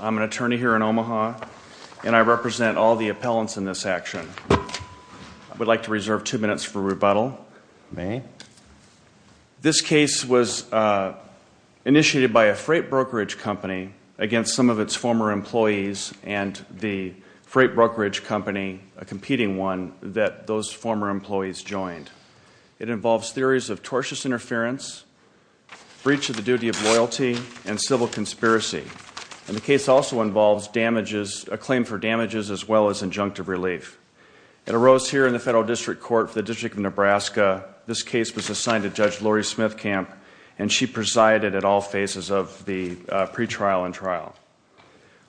I'm an attorney here in Omaha, and I represent all the appellants in this action. I would like to reserve two minutes for rebuttal. This case was initiated by a freight brokerage company against some of its former employees and the freight brokerage company, a competing one, that those former employees joined. It involves theories of tortious interference, breach of the duty of loyalty, and civil conspiracy. And the case also involves damages, a claim for damages, as well as injunctive relief. It arose here in the Federal District Court for the District of Nebraska. This case was assigned to Judge Lori Smithcamp, and she presided at all phases of the pretrial and trial.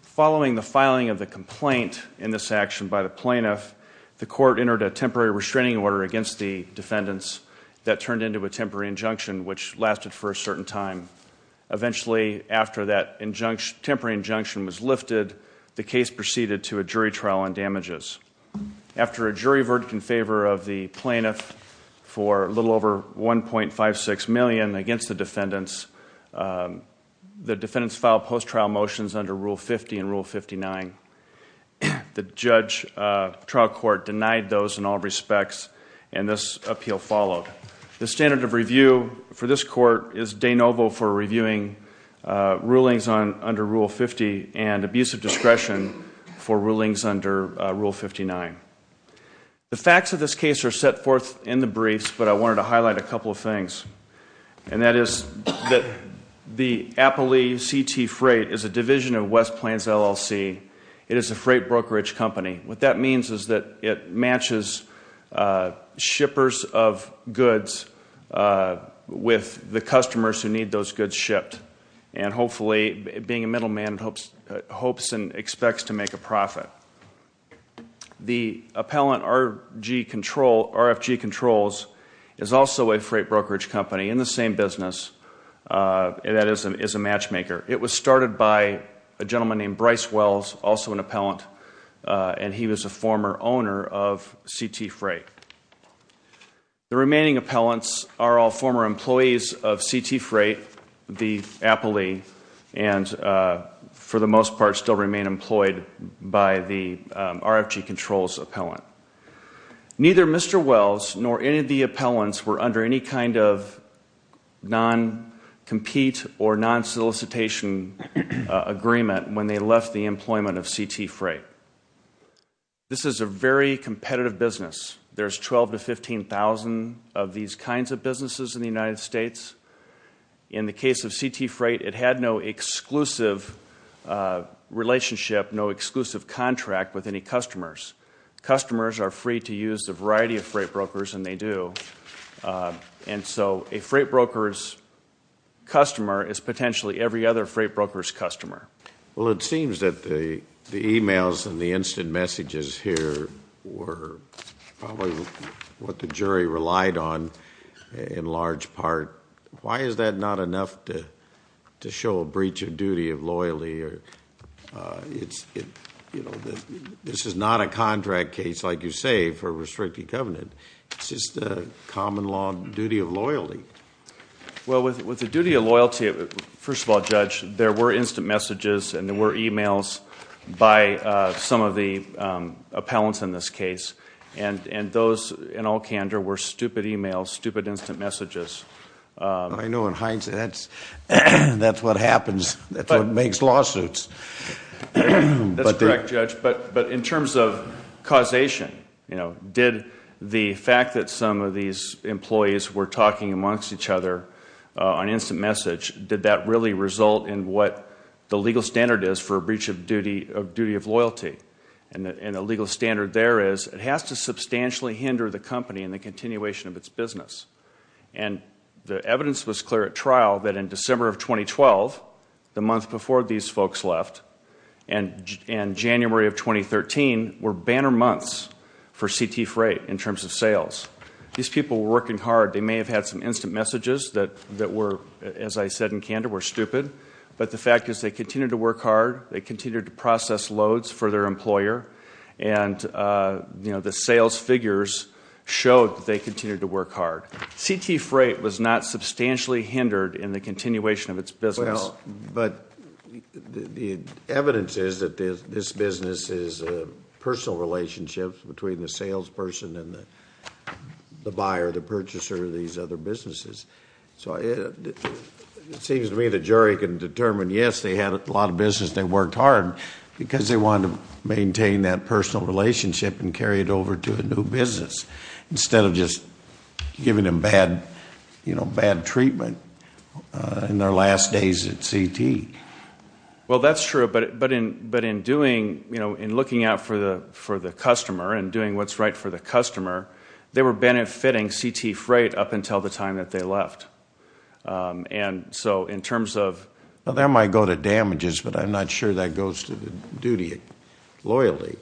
Following the filing of the complaint in this action by the plaintiff, the court entered a temporary restraining order against the defendants that turned into a temporary injunction, which lasted for a certain time. Eventually, after that temporary injunction was lifted, the case proceeded to a jury trial on damages. After a jury verdict in favor of the plaintiff for a little over $1.56 million against the defendants, the defendants filed post-trial motions under Rule 50 and Rule 59. The trial court denied those in all respects, and this appeal followed. The standard of review for this court is de novo for reviewing rulings under Rule 50 and abusive discretion for rulings under Rule 59. The facts of this case are set forth in the briefs, but I wanted to highlight a couple of things. And that is that the Appalee CT Freight is a division of West Plains LLC. It is a freight brokerage company. What that means is that it matches shippers of goods with the customers who need those goods shipped. And hopefully, being a middleman, it hopes and expects to make a profit. The appellant, RFG Controls, is also a freight brokerage company in the same business, and that is a matchmaker. It was started by a gentleman named Bryce Wells, also an appellant, and he was a former owner of CT Freight. The remaining appellants are all former employees of CT Freight, the Appalee, and for the most part still remain employed by the RFG Controls appellant. Neither Mr. Wells nor any of the appellants were under any kind of non-compete or non-solicitation agreement when they left the employment of CT Freight. This is a very competitive business. There's 12,000 to 15,000 of these kinds of businesses in the United States. In the case of CT Freight, it had no exclusive relationship, no exclusive contract with any customers. Customers are free to use a variety of freight brokers, and they do. And so a freight broker's customer is potentially every other freight broker's customer. Well, it seems that the e-mails and the instant messages here were probably what the jury relied on in large part. Why is that not enough to show a breach of duty of loyalty? This is not a contract case, like you say, for a restricted covenant. It's just a common law duty of loyalty. Well, with the duty of loyalty, first of all, Judge, there were instant messages and there were e-mails by some of the appellants in this case, and those in all candor were stupid e-mails, stupid instant messages. I know in hindsight that's what happens. That's what makes lawsuits. That's correct, Judge. But in terms of causation, did the fact that some of these employees were talking amongst each other on instant message, did that really result in what the legal standard is for a breach of duty of loyalty? And the legal standard there is it has to substantially hinder the company in the continuation of its business. And the evidence was clear at trial that in December of 2012, the month before these folks left, and January of 2013 were banner months for C.T. Freight in terms of sales. These people were working hard. They may have had some instant messages that were, as I said in candor, were stupid, but the fact is they continued to work hard, they continued to process loads for their employer, and the sales figures showed that they continued to work hard. C.T. Freight was not substantially hindered in the continuation of its business. Well, but the evidence is that this business is a personal relationship between the salesperson and the buyer, the purchaser of these other businesses. So it seems to me the jury can determine, yes, they had a lot of business, they worked hard, because they wanted to maintain that personal relationship and carry it over to a new business instead of just giving them bad treatment in their last days at C.T. Well, that's true, but in doing, you know, in looking out for the customer and doing what's right for the customer, they were benefiting C.T. Freight up until the time that they left. And so in terms of – Well, that might go to damages, but I'm not sure that goes to the duty of loyalty.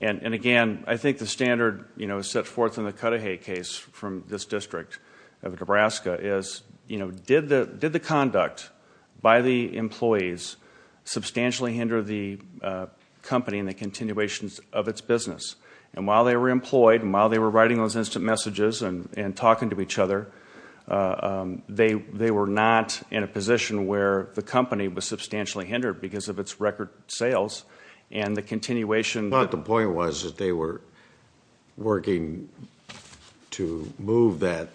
And again, I think the standard, you know, set forth in the Cudahy case from this district of Nebraska is, you know, did the conduct by the employees substantially hinder the company in the continuations of its business? And while they were employed and while they were writing those instant messages and talking to each other, they were not in a position where the company was substantially hindered because of its record sales and the continuation. But the point was that they were working to move that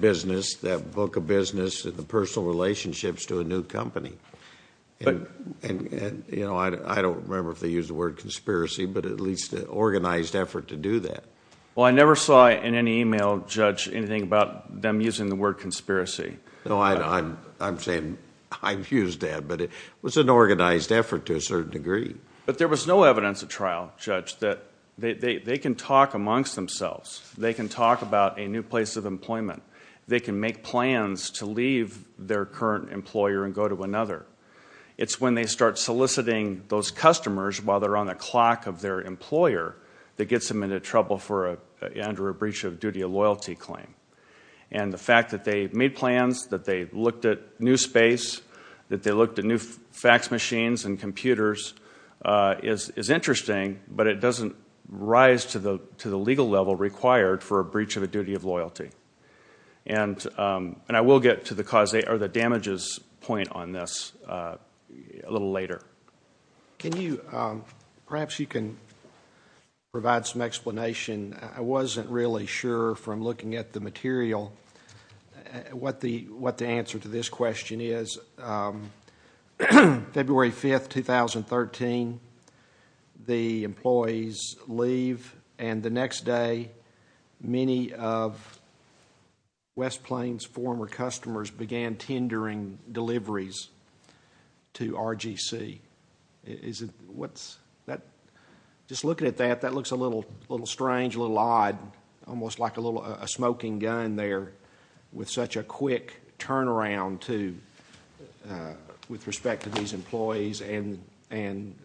business, that book of business, the personal relationships to a new company. And, you know, I don't remember if they used the word conspiracy, but at least an organized effort to do that. Well, I never saw in any email, Judge, anything about them using the word conspiracy. No, I'm saying I've used that, but it was an organized effort to a certain degree. But there was no evidence at trial, Judge, that they can talk amongst themselves. They can talk about a new place of employment. They can make plans to leave their current employer and go to another. It's when they start soliciting those customers while they're on the clock of their employer that gets them into trouble under a breach of duty of loyalty claim. And the fact that they made plans, that they looked at new space, that they looked at new fax machines and computers is interesting, but it doesn't rise to the legal level required for a breach of a duty of loyalty. And I will get to the damages point on this a little later. Perhaps you can provide some explanation. I wasn't really sure from looking at the material what the answer to this question is. February 5th, 2013, the employees leave, and the next day many of West Plains' former customers began tendering deliveries to RGC. Just looking at that, that looks a little strange, a little odd, almost like a smoking gun there with such a quick turnaround with respect to these employees and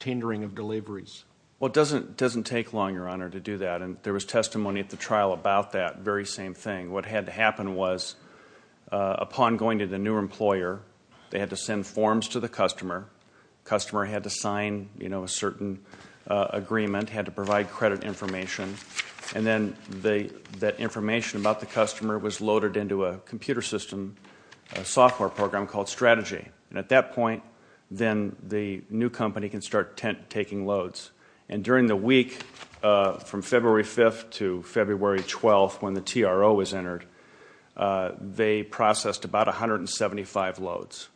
tendering of deliveries. Well, it doesn't take long, Your Honor, to do that, and there was testimony at the trial about that very same thing. What had to happen was, upon going to the new employer, they had to send forms to the customer, the customer had to sign a certain agreement, had to provide credit information, and then that information about the customer was loaded into a computer system, a software program called Strategy. And at that point, then the new company can start taking loads. And during the week from February 5th to February 12th, when the TRO was entered, they processed about 175 loads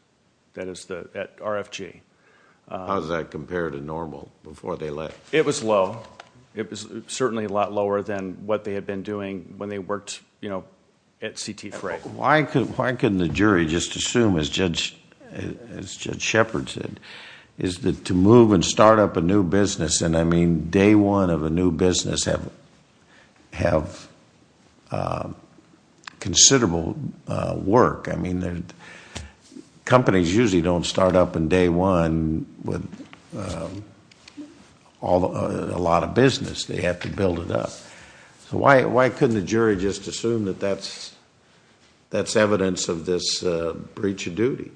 at RFG. How does that compare to normal before they left? It was low. It was certainly a lot lower than what they had been doing when they worked at CT Freight. Why couldn't the jury just assume, as Judge Shepard said, is that to move and start up a new business, and, I mean, day one of a new business have considerable work. I mean, companies usually don't start up on day one with a lot of business. They have to build it up. So why couldn't the jury just assume that that's evidence of this breach of duty?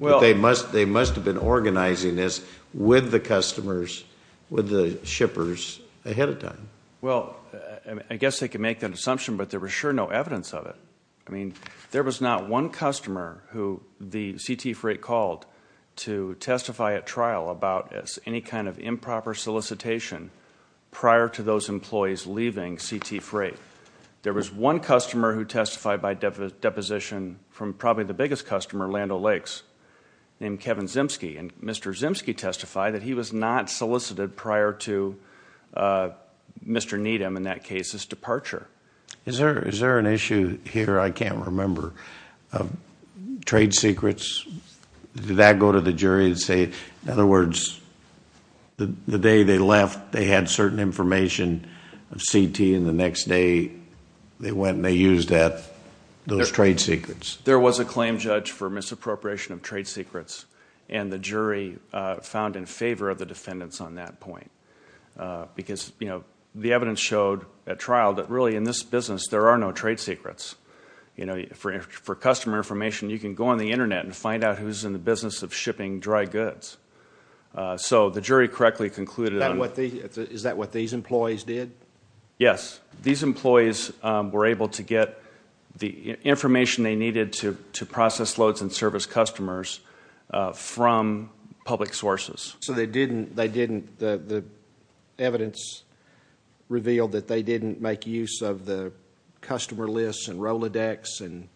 They must have been organizing this with the customers, with the shippers ahead of time. Well, I guess they could make that assumption, but there was sure no evidence of it. I mean, there was not one customer who the CT Freight called to testify at trial about any kind of improper solicitation prior to those employees leaving CT Freight. There was one customer who testified by deposition from probably the biggest customer, Land O'Lakes, named Kevin Zimsky, and Mr. Zimsky testified that he was not solicited prior to Mr. Needham, in that case, his departure. Is there an issue here I can't remember, trade secrets? Did that go to the jury and say, in other words, the day they left, they had certain information of CT, and the next day they went and they used those trade secrets? There was a claim judged for misappropriation of trade secrets, and the jury found in favor of the defendants on that point because the evidence showed at trial that really in this business there are no trade secrets. For customer information, you can go on the Internet and find out who's in the business of shipping dry goods. So the jury correctly concluded on that. Is that what these employees did? Yes. These employees were able to get the information they needed to process loads and service customers from public sources. So the evidence revealed that they didn't make use of the customer lists and Rolodex and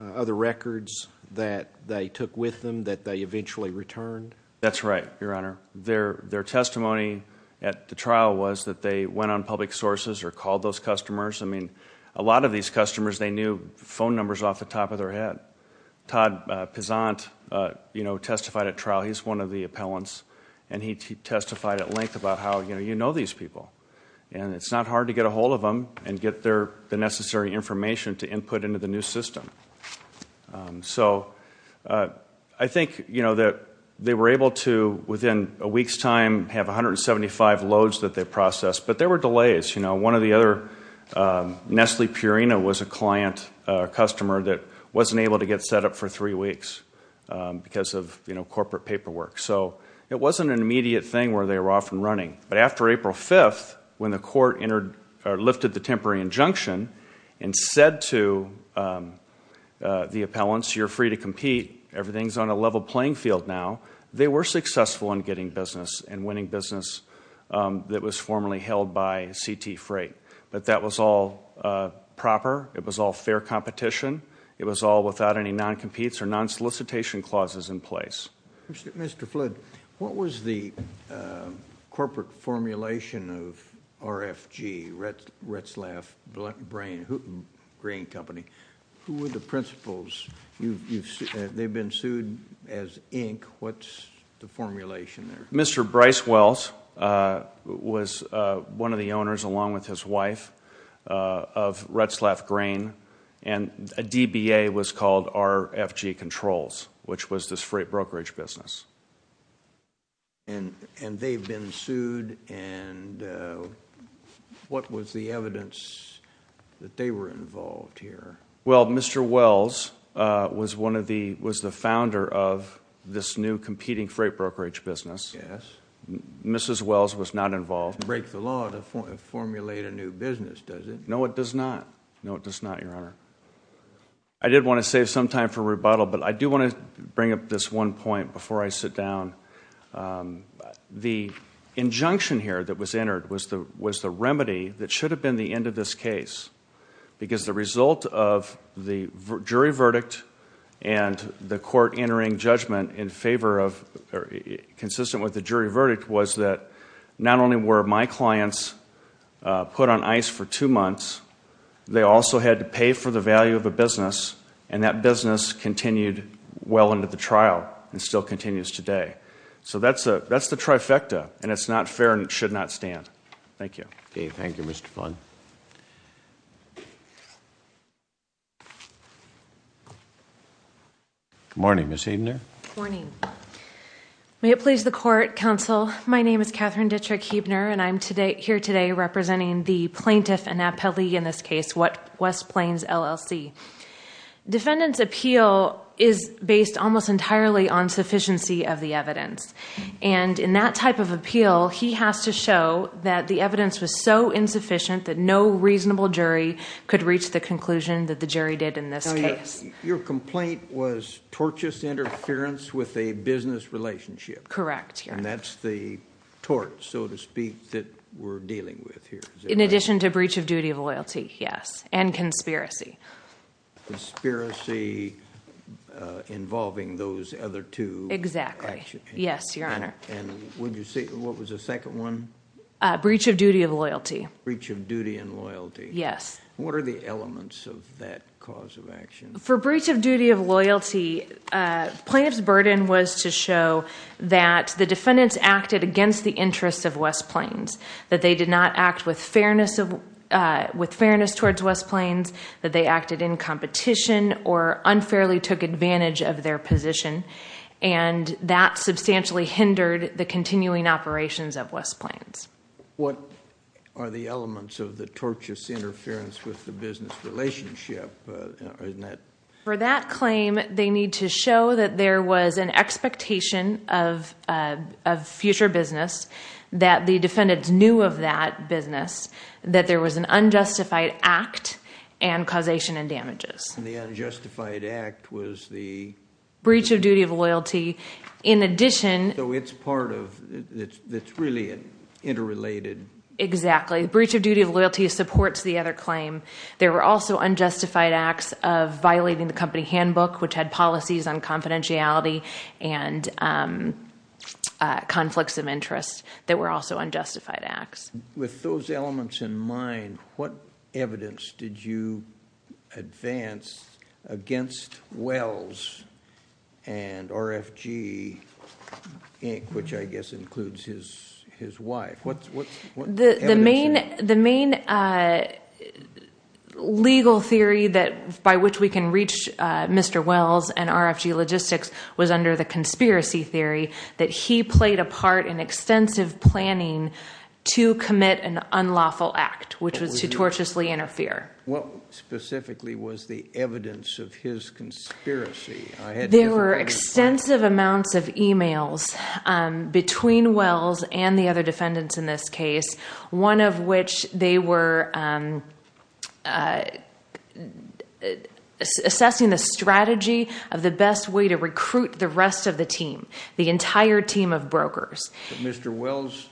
other records that they took with them that they eventually returned? That's right, Your Honor. Their testimony at the trial was that they went on public sources or called those customers. I mean, a lot of these customers, they knew phone numbers off the top of their head. Todd Pizant testified at trial. He's one of the appellants, and he testified at length about how you know these people, and it's not hard to get a hold of them and get the necessary information to input into the new system. So I think that they were able to, within a week's time, have 175 loads that they processed. But there were delays. One of the other, Nestle Purina, was a client, a customer that wasn't able to get set up for three weeks because of corporate paperwork. So it wasn't an immediate thing where they were off and running. But after April 5th, when the court lifted the temporary injunction and said to the appellants, you're free to compete, everything's on a level playing field now, they were successful in getting business and winning business that was formerly held by CT Freight. But that was all proper. It was all fair competition. It was all without any non-competes or non-solicitation clauses in place. Mr. Flood, what was the corporate formulation of RFG, Retzlaff Grain Company? Who were the principals? They've been sued as Inc. What's the formulation there? Mr. Bryce Wells was one of the owners, along with his wife, of Retzlaff Grain. And a DBA was called RFG Controls, which was this freight brokerage business. And they've been sued, and what was the evidence that they were involved here? Well, Mr. Wells was the founder of this new competing freight brokerage business. Yes. Mrs. Wells was not involved. Break the law to formulate a new business, does it? No, it does not. No, it does not, Your Honor. I did want to save some time for rebuttal, but I do want to bring up this one point before I sit down. The injunction here that was entered was the remedy that should have been the end of this case. Because the result of the jury verdict and the court entering judgment consistent with the jury verdict was that not only were my clients put on ice for two months, they also had to pay for the value of a business, and that business continued well into the trial and still continues today. So that's the trifecta, and it's not fair and it should not stand. Thank you. Okay, thank you, Mr. Vaughn. Good morning, Ms. Huebner. Good morning. May it please the court, counsel, my name is Catherine Ditrick Huebner, and I'm here today representing the plaintiff and appellee in this case, West Plains, LLC. Defendant's appeal is based almost entirely on sufficiency of the evidence, and in that type of appeal, he has to show that the evidence was so insufficient that no reasonable jury could reach the conclusion that the jury did in this case. Your complaint was tortious interference with a business relationship. Correct. And that's the tort, so to speak, that we're dealing with here. In addition to breach of duty of loyalty, yes, and conspiracy. Conspiracy involving those other two actions. Exactly. Yes, Your Honor. And would you say what was the second one? Breach of duty of loyalty. Breach of duty and loyalty. Yes. What are the elements of that cause of action? For breach of duty of loyalty, plaintiff's burden was to show that the defendants acted against the interests of West Plains, that they did not act with fairness towards West Plains, that they acted in competition or unfairly took advantage of their position, and that substantially hindered the continuing operations of West Plains. What are the elements of the tortious interference with the business relationship? For that claim, they need to show that there was an expectation of future business, that the defendants knew of that business, that there was an unjustified act and causation and damages. And the unjustified act was the? Breach of duty of loyalty. In addition. So it's part of, it's really interrelated. Exactly. Breach of duty of loyalty supports the other claim. There were also unjustified acts of violating the company handbook, which had policies on confidentiality and conflicts of interest that were also unjustified acts. With those elements in mind, what evidence did you advance against Wells and RFG, which I guess includes his wife? What evidence? The main legal theory by which we can reach Mr. Wells and RFG Logistics was under the conspiracy theory that he played a part in extensive planning to commit an unlawful act, which was to tortiously interfere. What specifically was the evidence of his conspiracy? There were extensive amounts of emails between Wells and the other defendants in this case, one of which they were assessing the strategy of the best way to recruit the rest of the team, the entire team of brokers. Mr. Wells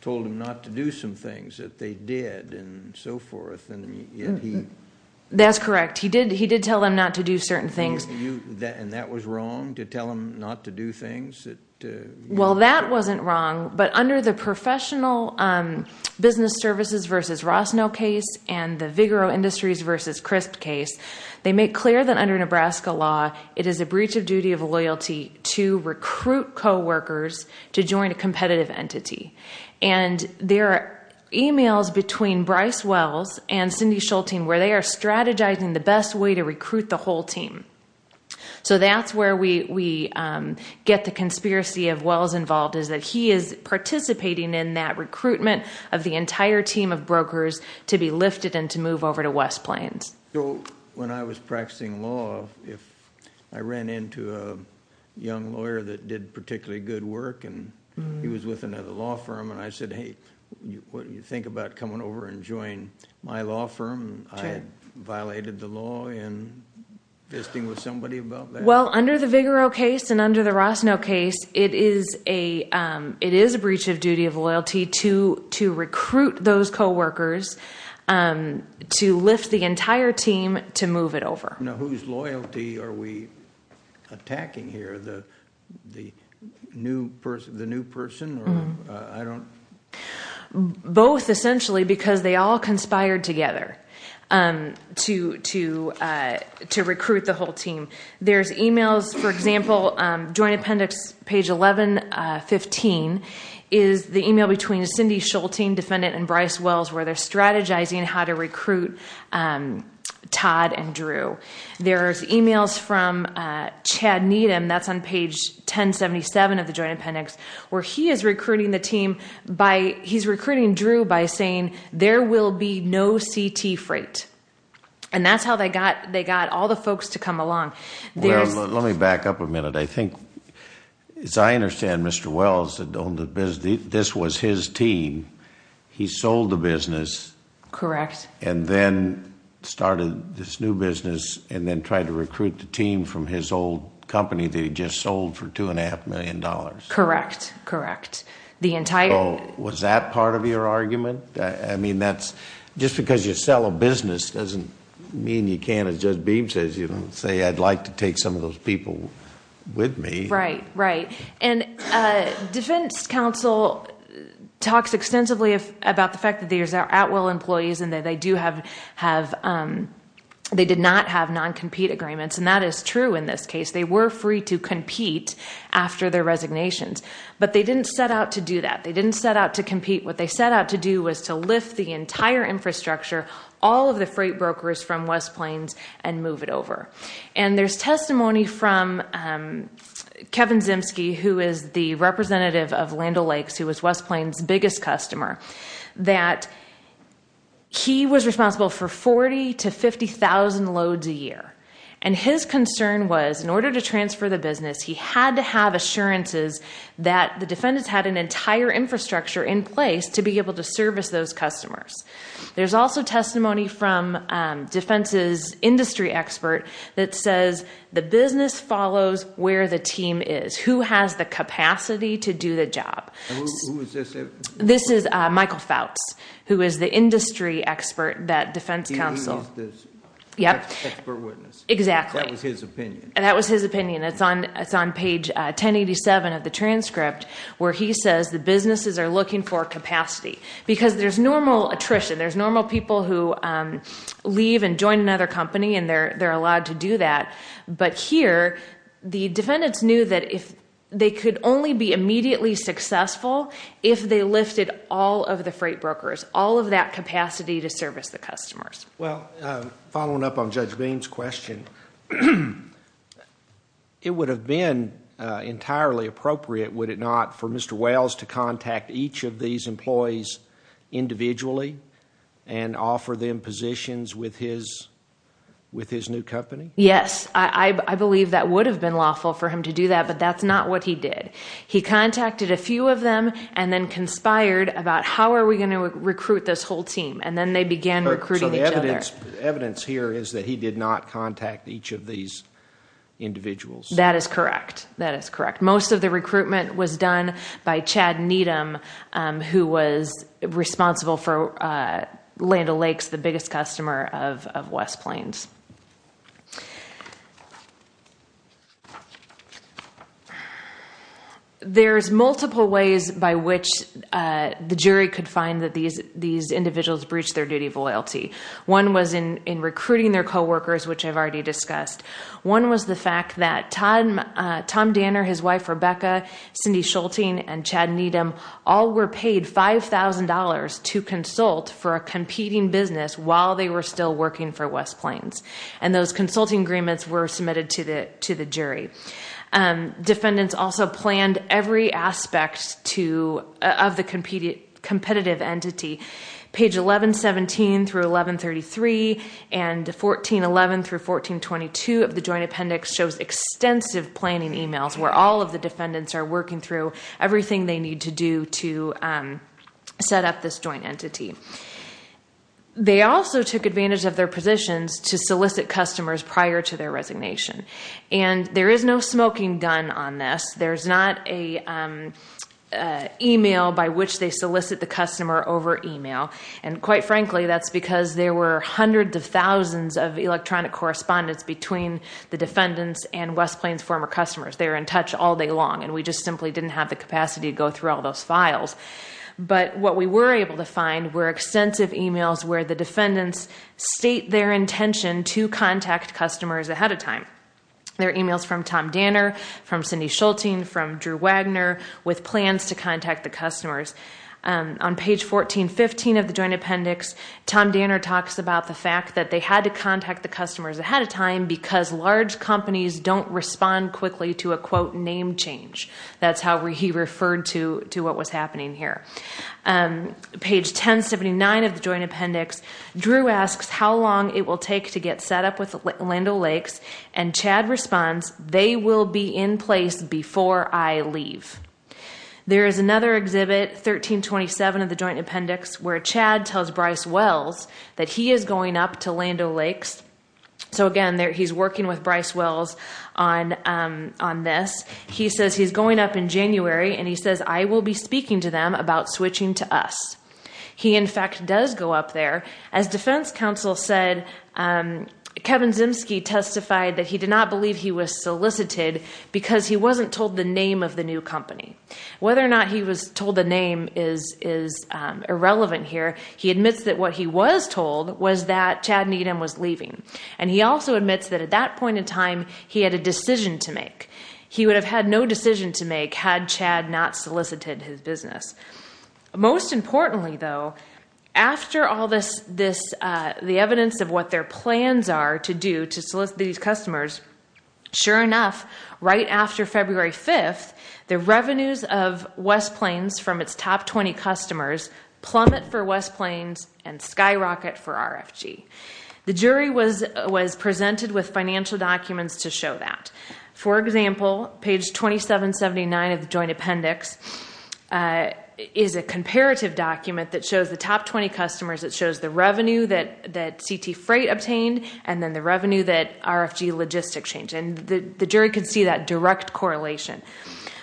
told them not to do some things that they did and so forth, and yet he? That's correct. He did tell them not to do certain things. And that was wrong to tell them not to do things? Well, that wasn't wrong. But under the Professional Business Services v. Rossnow case and the Vigoro Industries v. Crisp case, they make clear that under Nebraska law it is a breach of duty of loyalty to recruit coworkers to join a competitive entity. And there are emails between Bryce Wells and Cindy Schulting where they are strategizing the best way to recruit the whole team. So that's where we get the conspiracy of Wells involved, is that he is participating in that recruitment of the entire team of brokers to be lifted and to move over to West Plains. When I was practicing law, I ran into a young lawyer that did particularly good work, and he was with another law firm, and I said, hey, what do you think about coming over and joining my law firm? I violated the law and visiting with somebody about that. Well, under the Vigoro case and under the Rossnow case, it is a breach of duty of loyalty to recruit those coworkers to lift the entire team to move it over. Now whose loyalty are we attacking here, the new person? Both, essentially, because they all conspired together to recruit the whole team. There's emails, for example, Joint Appendix page 1115 is the email between Cindy Schulting, defendant, and Bryce Wells where they're strategizing how to recruit Todd and Drew. There's emails from Chad Needham, that's on page 1077 of the Joint Appendix, where he is recruiting Drew by saying there will be no CT freight. And that's how they got all the folks to come along. Well, let me back up a minute. I think, as I understand, Mr. Wells, this was his team. He sold the business. Correct. And then started this new business and then tried to recruit the team from his old company that he just sold for $2.5 million. Correct, correct. Was that part of your argument? I mean, just because you sell a business doesn't mean you can't, as Judge Beam says, say, I'd like to take some of those people with me. Right, right. And defense counsel talks extensively about the fact that these are at-will employees and that they did not have non-compete agreements, and that is true in this case. They were free to compete after their resignations, but they didn't set out to do that. They didn't set out to compete. What they set out to do was to lift the entire infrastructure, all of the freight brokers from West Plains, and move it over. And there's testimony from Kevin Zimsky, who is the representative of Land O'Lakes, who was West Plains' biggest customer, that he was responsible for 40,000 to 50,000 loads a year. And his concern was, in order to transfer the business, he had to have assurances that the defendants had an entire infrastructure in place to be able to service those customers. There's also testimony from defense's industry expert that says, the business follows where the team is. Who has the capacity to do the job? Who is this? This is Michael Fouts, who is the industry expert that defense counsel... He was the expert witness. Exactly. That was his opinion. That was his opinion. It's on page 1087 of the transcript, where he says the businesses are looking for capacity. Because there's normal attrition. There's normal people who leave and join another company, and they're allowed to do that. But here, the defendants knew that they could only be immediately successful if they lifted all of the freight brokers, all of that capacity to service the customers. Following up on Judge Bean's question, it would have been entirely appropriate, would it not, for Mr. Wells to contact each of these employees individually and offer them positions with his new company? Yes. I believe that would have been lawful for him to do that, but that's not what he did. He contacted a few of them and then conspired about, how are we going to recruit this whole team? And then they began recruiting each other. So the evidence here is that he did not contact each of these individuals. That is correct. That is correct. Most of the recruitment was done by Chad Needham, who was responsible for Land O'Lakes, the biggest customer of West Plains. There's multiple ways by which the jury could find that these individuals breached their duty of loyalty. One was in recruiting their coworkers, which I've already discussed. One was the fact that Tom Danner, his wife Rebecca, Cindy Schulting, and Chad Needham all were paid $5,000 to consult for a competing business while they were still working for West Plains. And those consulting agreements were submitted to the jury. Defendants also planned every aspect of the competitive entity. Page 1117 through 1133 and 1411 through 1422 of the Joint Appendix shows extensive planning emails where all of the defendants are working through everything they need to do to set up this joint entity. They also took advantage of their positions to solicit customers prior to their resignation. And there is no smoking gun on this. There's not an email by which they solicit the customer over email. And quite frankly, that's because there were hundreds of thousands of electronic correspondence between the defendants and West Plains' former customers. They were in touch all day long, and we just simply didn't have the capacity to go through all those files. But what we were able to find were extensive emails where the defendants state their intention to contact customers ahead of time. They're emails from Tom Danner, from Cindy Schulting, from Drew Wagner, with plans to contact the customers. On page 1415 of the Joint Appendix, Tom Danner talks about the fact that they had to contact the customers ahead of time because large companies don't respond quickly to a, quote, name change. That's how he referred to what was happening here. Page 1079 of the Joint Appendix, Drew asks how long it will take to get set up with Lando Lakes. And Chad responds, they will be in place before I leave. There is another exhibit, 1327 of the Joint Appendix, where Chad tells Bryce Wells that he is going up to Lando Lakes. So again, he's working with Bryce Wells on this. He says he's going up in January, and he says, I will be speaking to them about switching to us. He, in fact, does go up there. As defense counsel said, Kevin Zimsky testified that he did not believe he was solicited because he wasn't told the name of the new company. Whether or not he was told the name is irrelevant here. He admits that what he was told was that Chad Needham was leaving. And he also admits that at that point in time, he had a decision to make. He would have had no decision to make had Chad not solicited his business. Most importantly, though, after all this, the evidence of what their plans are to do to solicit these customers, sure enough, right after February 5th, the revenues of West Plains from its top 20 customers plummet for West Plains and skyrocket for RFG. The jury was presented with financial documents to show that. For example, page 2779 of the joint appendix is a comparative document that shows the top 20 customers. It shows the revenue that CT Freight obtained and then the revenue that RFG Logistics changed. And the jury could see that direct correlation.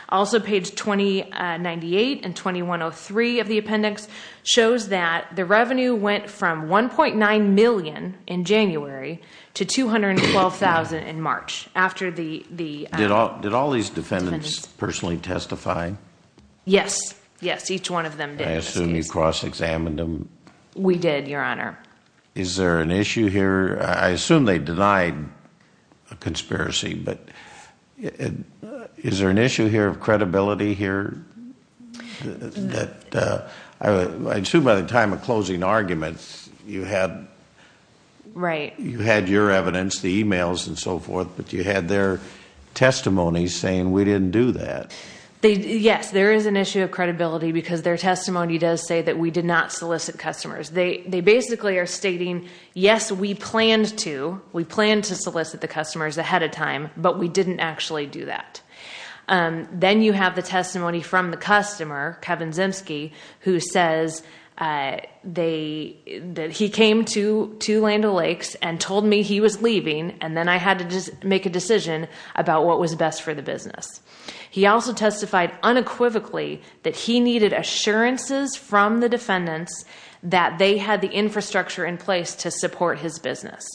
Also, page 2098 and 2103 of the appendix shows that the revenue went from $1.9 million in January to $212,000 in March. Did all these defendants personally testify? Yes. Yes, each one of them did. I assume you cross-examined them. We did, Your Honor. Is there an issue here? I assume they denied a conspiracy, but is there an issue here of credibility here? I assume by the time of closing arguments you had your evidence, the e-mails and so forth, but you had their testimony saying we didn't do that. Yes, there is an issue of credibility because their testimony does say that we did not solicit customers. They basically are stating, yes, we planned to. We planned to solicit the customers ahead of time, but we didn't actually do that. Then you have the testimony from the customer, Kevin Zemsky, who says that he came to Land O'Lakes and told me he was leaving, and then I had to make a decision about what was best for the business. He also testified unequivocally that he needed assurances from the defendants that they had the infrastructure in place to support his business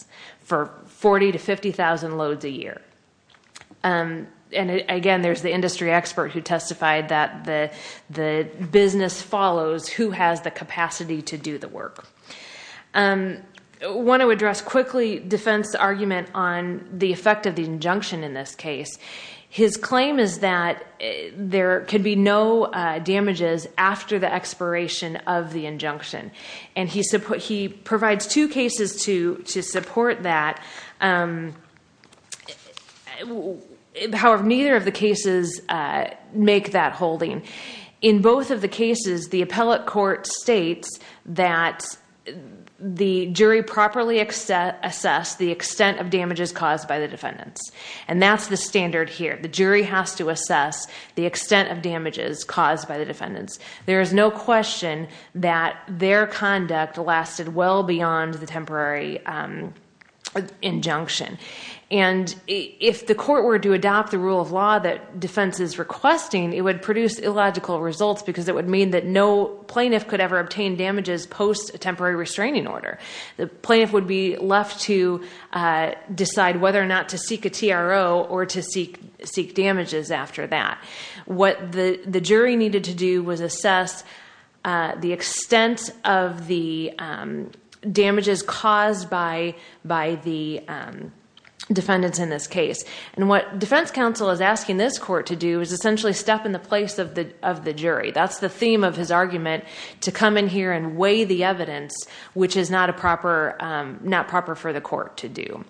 for 40,000 to 50,000 loads a year. Again, there's the industry expert who testified that the business follows who has the capacity to do the work. I want to address quickly defense argument on the effect of the injunction in this case. His claim is that there could be no damages after the expiration of the injunction, and he provides two cases to support that. However, neither of the cases make that holding. In both of the cases, the appellate court states that the jury properly assessed the extent of damages caused by the defendants, and that's the standard here. The jury has to assess the extent of damages caused by the defendants. There is no question that their conduct lasted well beyond the temporary injunction, and if the court were to adopt the rule of law that defense is requesting, it would produce illogical results because it would mean that no plaintiff could ever obtain damages post a temporary restraining order. The plaintiff would be left to decide whether or not to seek a TRO or to seek damages after that. What the jury needed to do was assess the extent of the damages caused by the defendants in this case. What defense counsel is asking this court to do is essentially step in the place of the jury. That's the theme of his argument, to come in here and weigh the evidence, which is not proper for the court to do.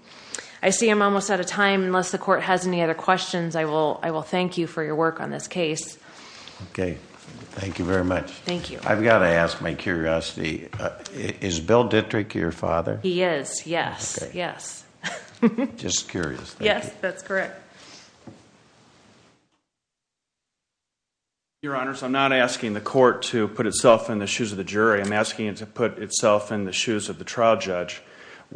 I see I'm almost out of time. Unless the court has any other questions, I will thank you for your work on this case. Okay. Thank you very much. Thank you. I've got to ask my curiosity. Is Bill Dittrich your father? He is, yes. Yes. Just curious. Yes, that's correct. Your Honors, I'm not asking the court to put itself in the shoes of the jury. I'm asking it to put itself in the shoes of the trial judge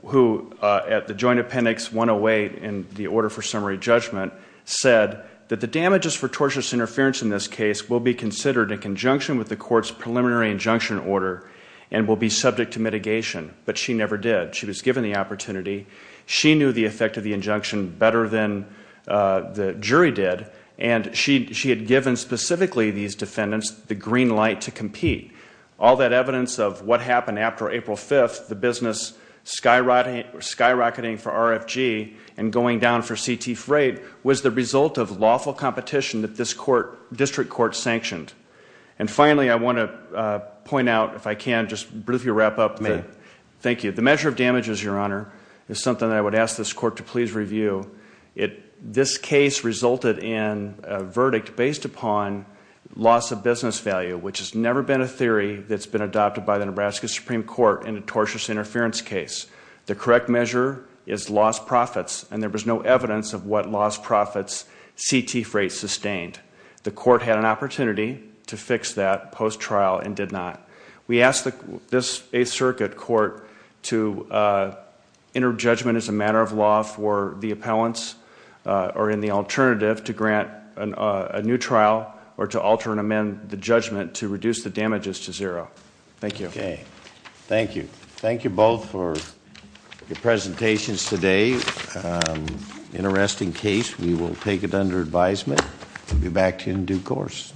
who, at the joint appendix 108 in the order for summary judgment, said that the damages for tortious interference in this case will be considered in conjunction with the court's preliminary injunction order and will be subject to mitigation. But she never did. She was given the opportunity. She knew the effect of the injunction better than the jury did, and she had given specifically these defendants the green light to compete. All that evidence of what happened after April 5th, the business skyrocketing for RFG and going down for CT freight, was the result of lawful competition that this district court sanctioned. And finally, I want to point out, if I can, just briefly wrap up. Thank you. The measure of damages, Your Honor, is something that I would ask this court to please review. This case resulted in a verdict based upon loss of business value, which has never been a theory that's been adopted by the Nebraska Supreme Court in a tortious interference case. The correct measure is lost profits, and there was no evidence of what lost profits CT freight sustained. The court had an opportunity to fix that post-trial and did not. We ask this Eighth Circuit Court to enter judgment as a matter of law for the appellants, or in the alternative, to grant a new trial or to alter and amend the judgment to reduce the damages to zero. Thank you. Okay. Thank you. Thank you both for your presentations today. Interesting case. We will take it under advisement and be back to you in due course.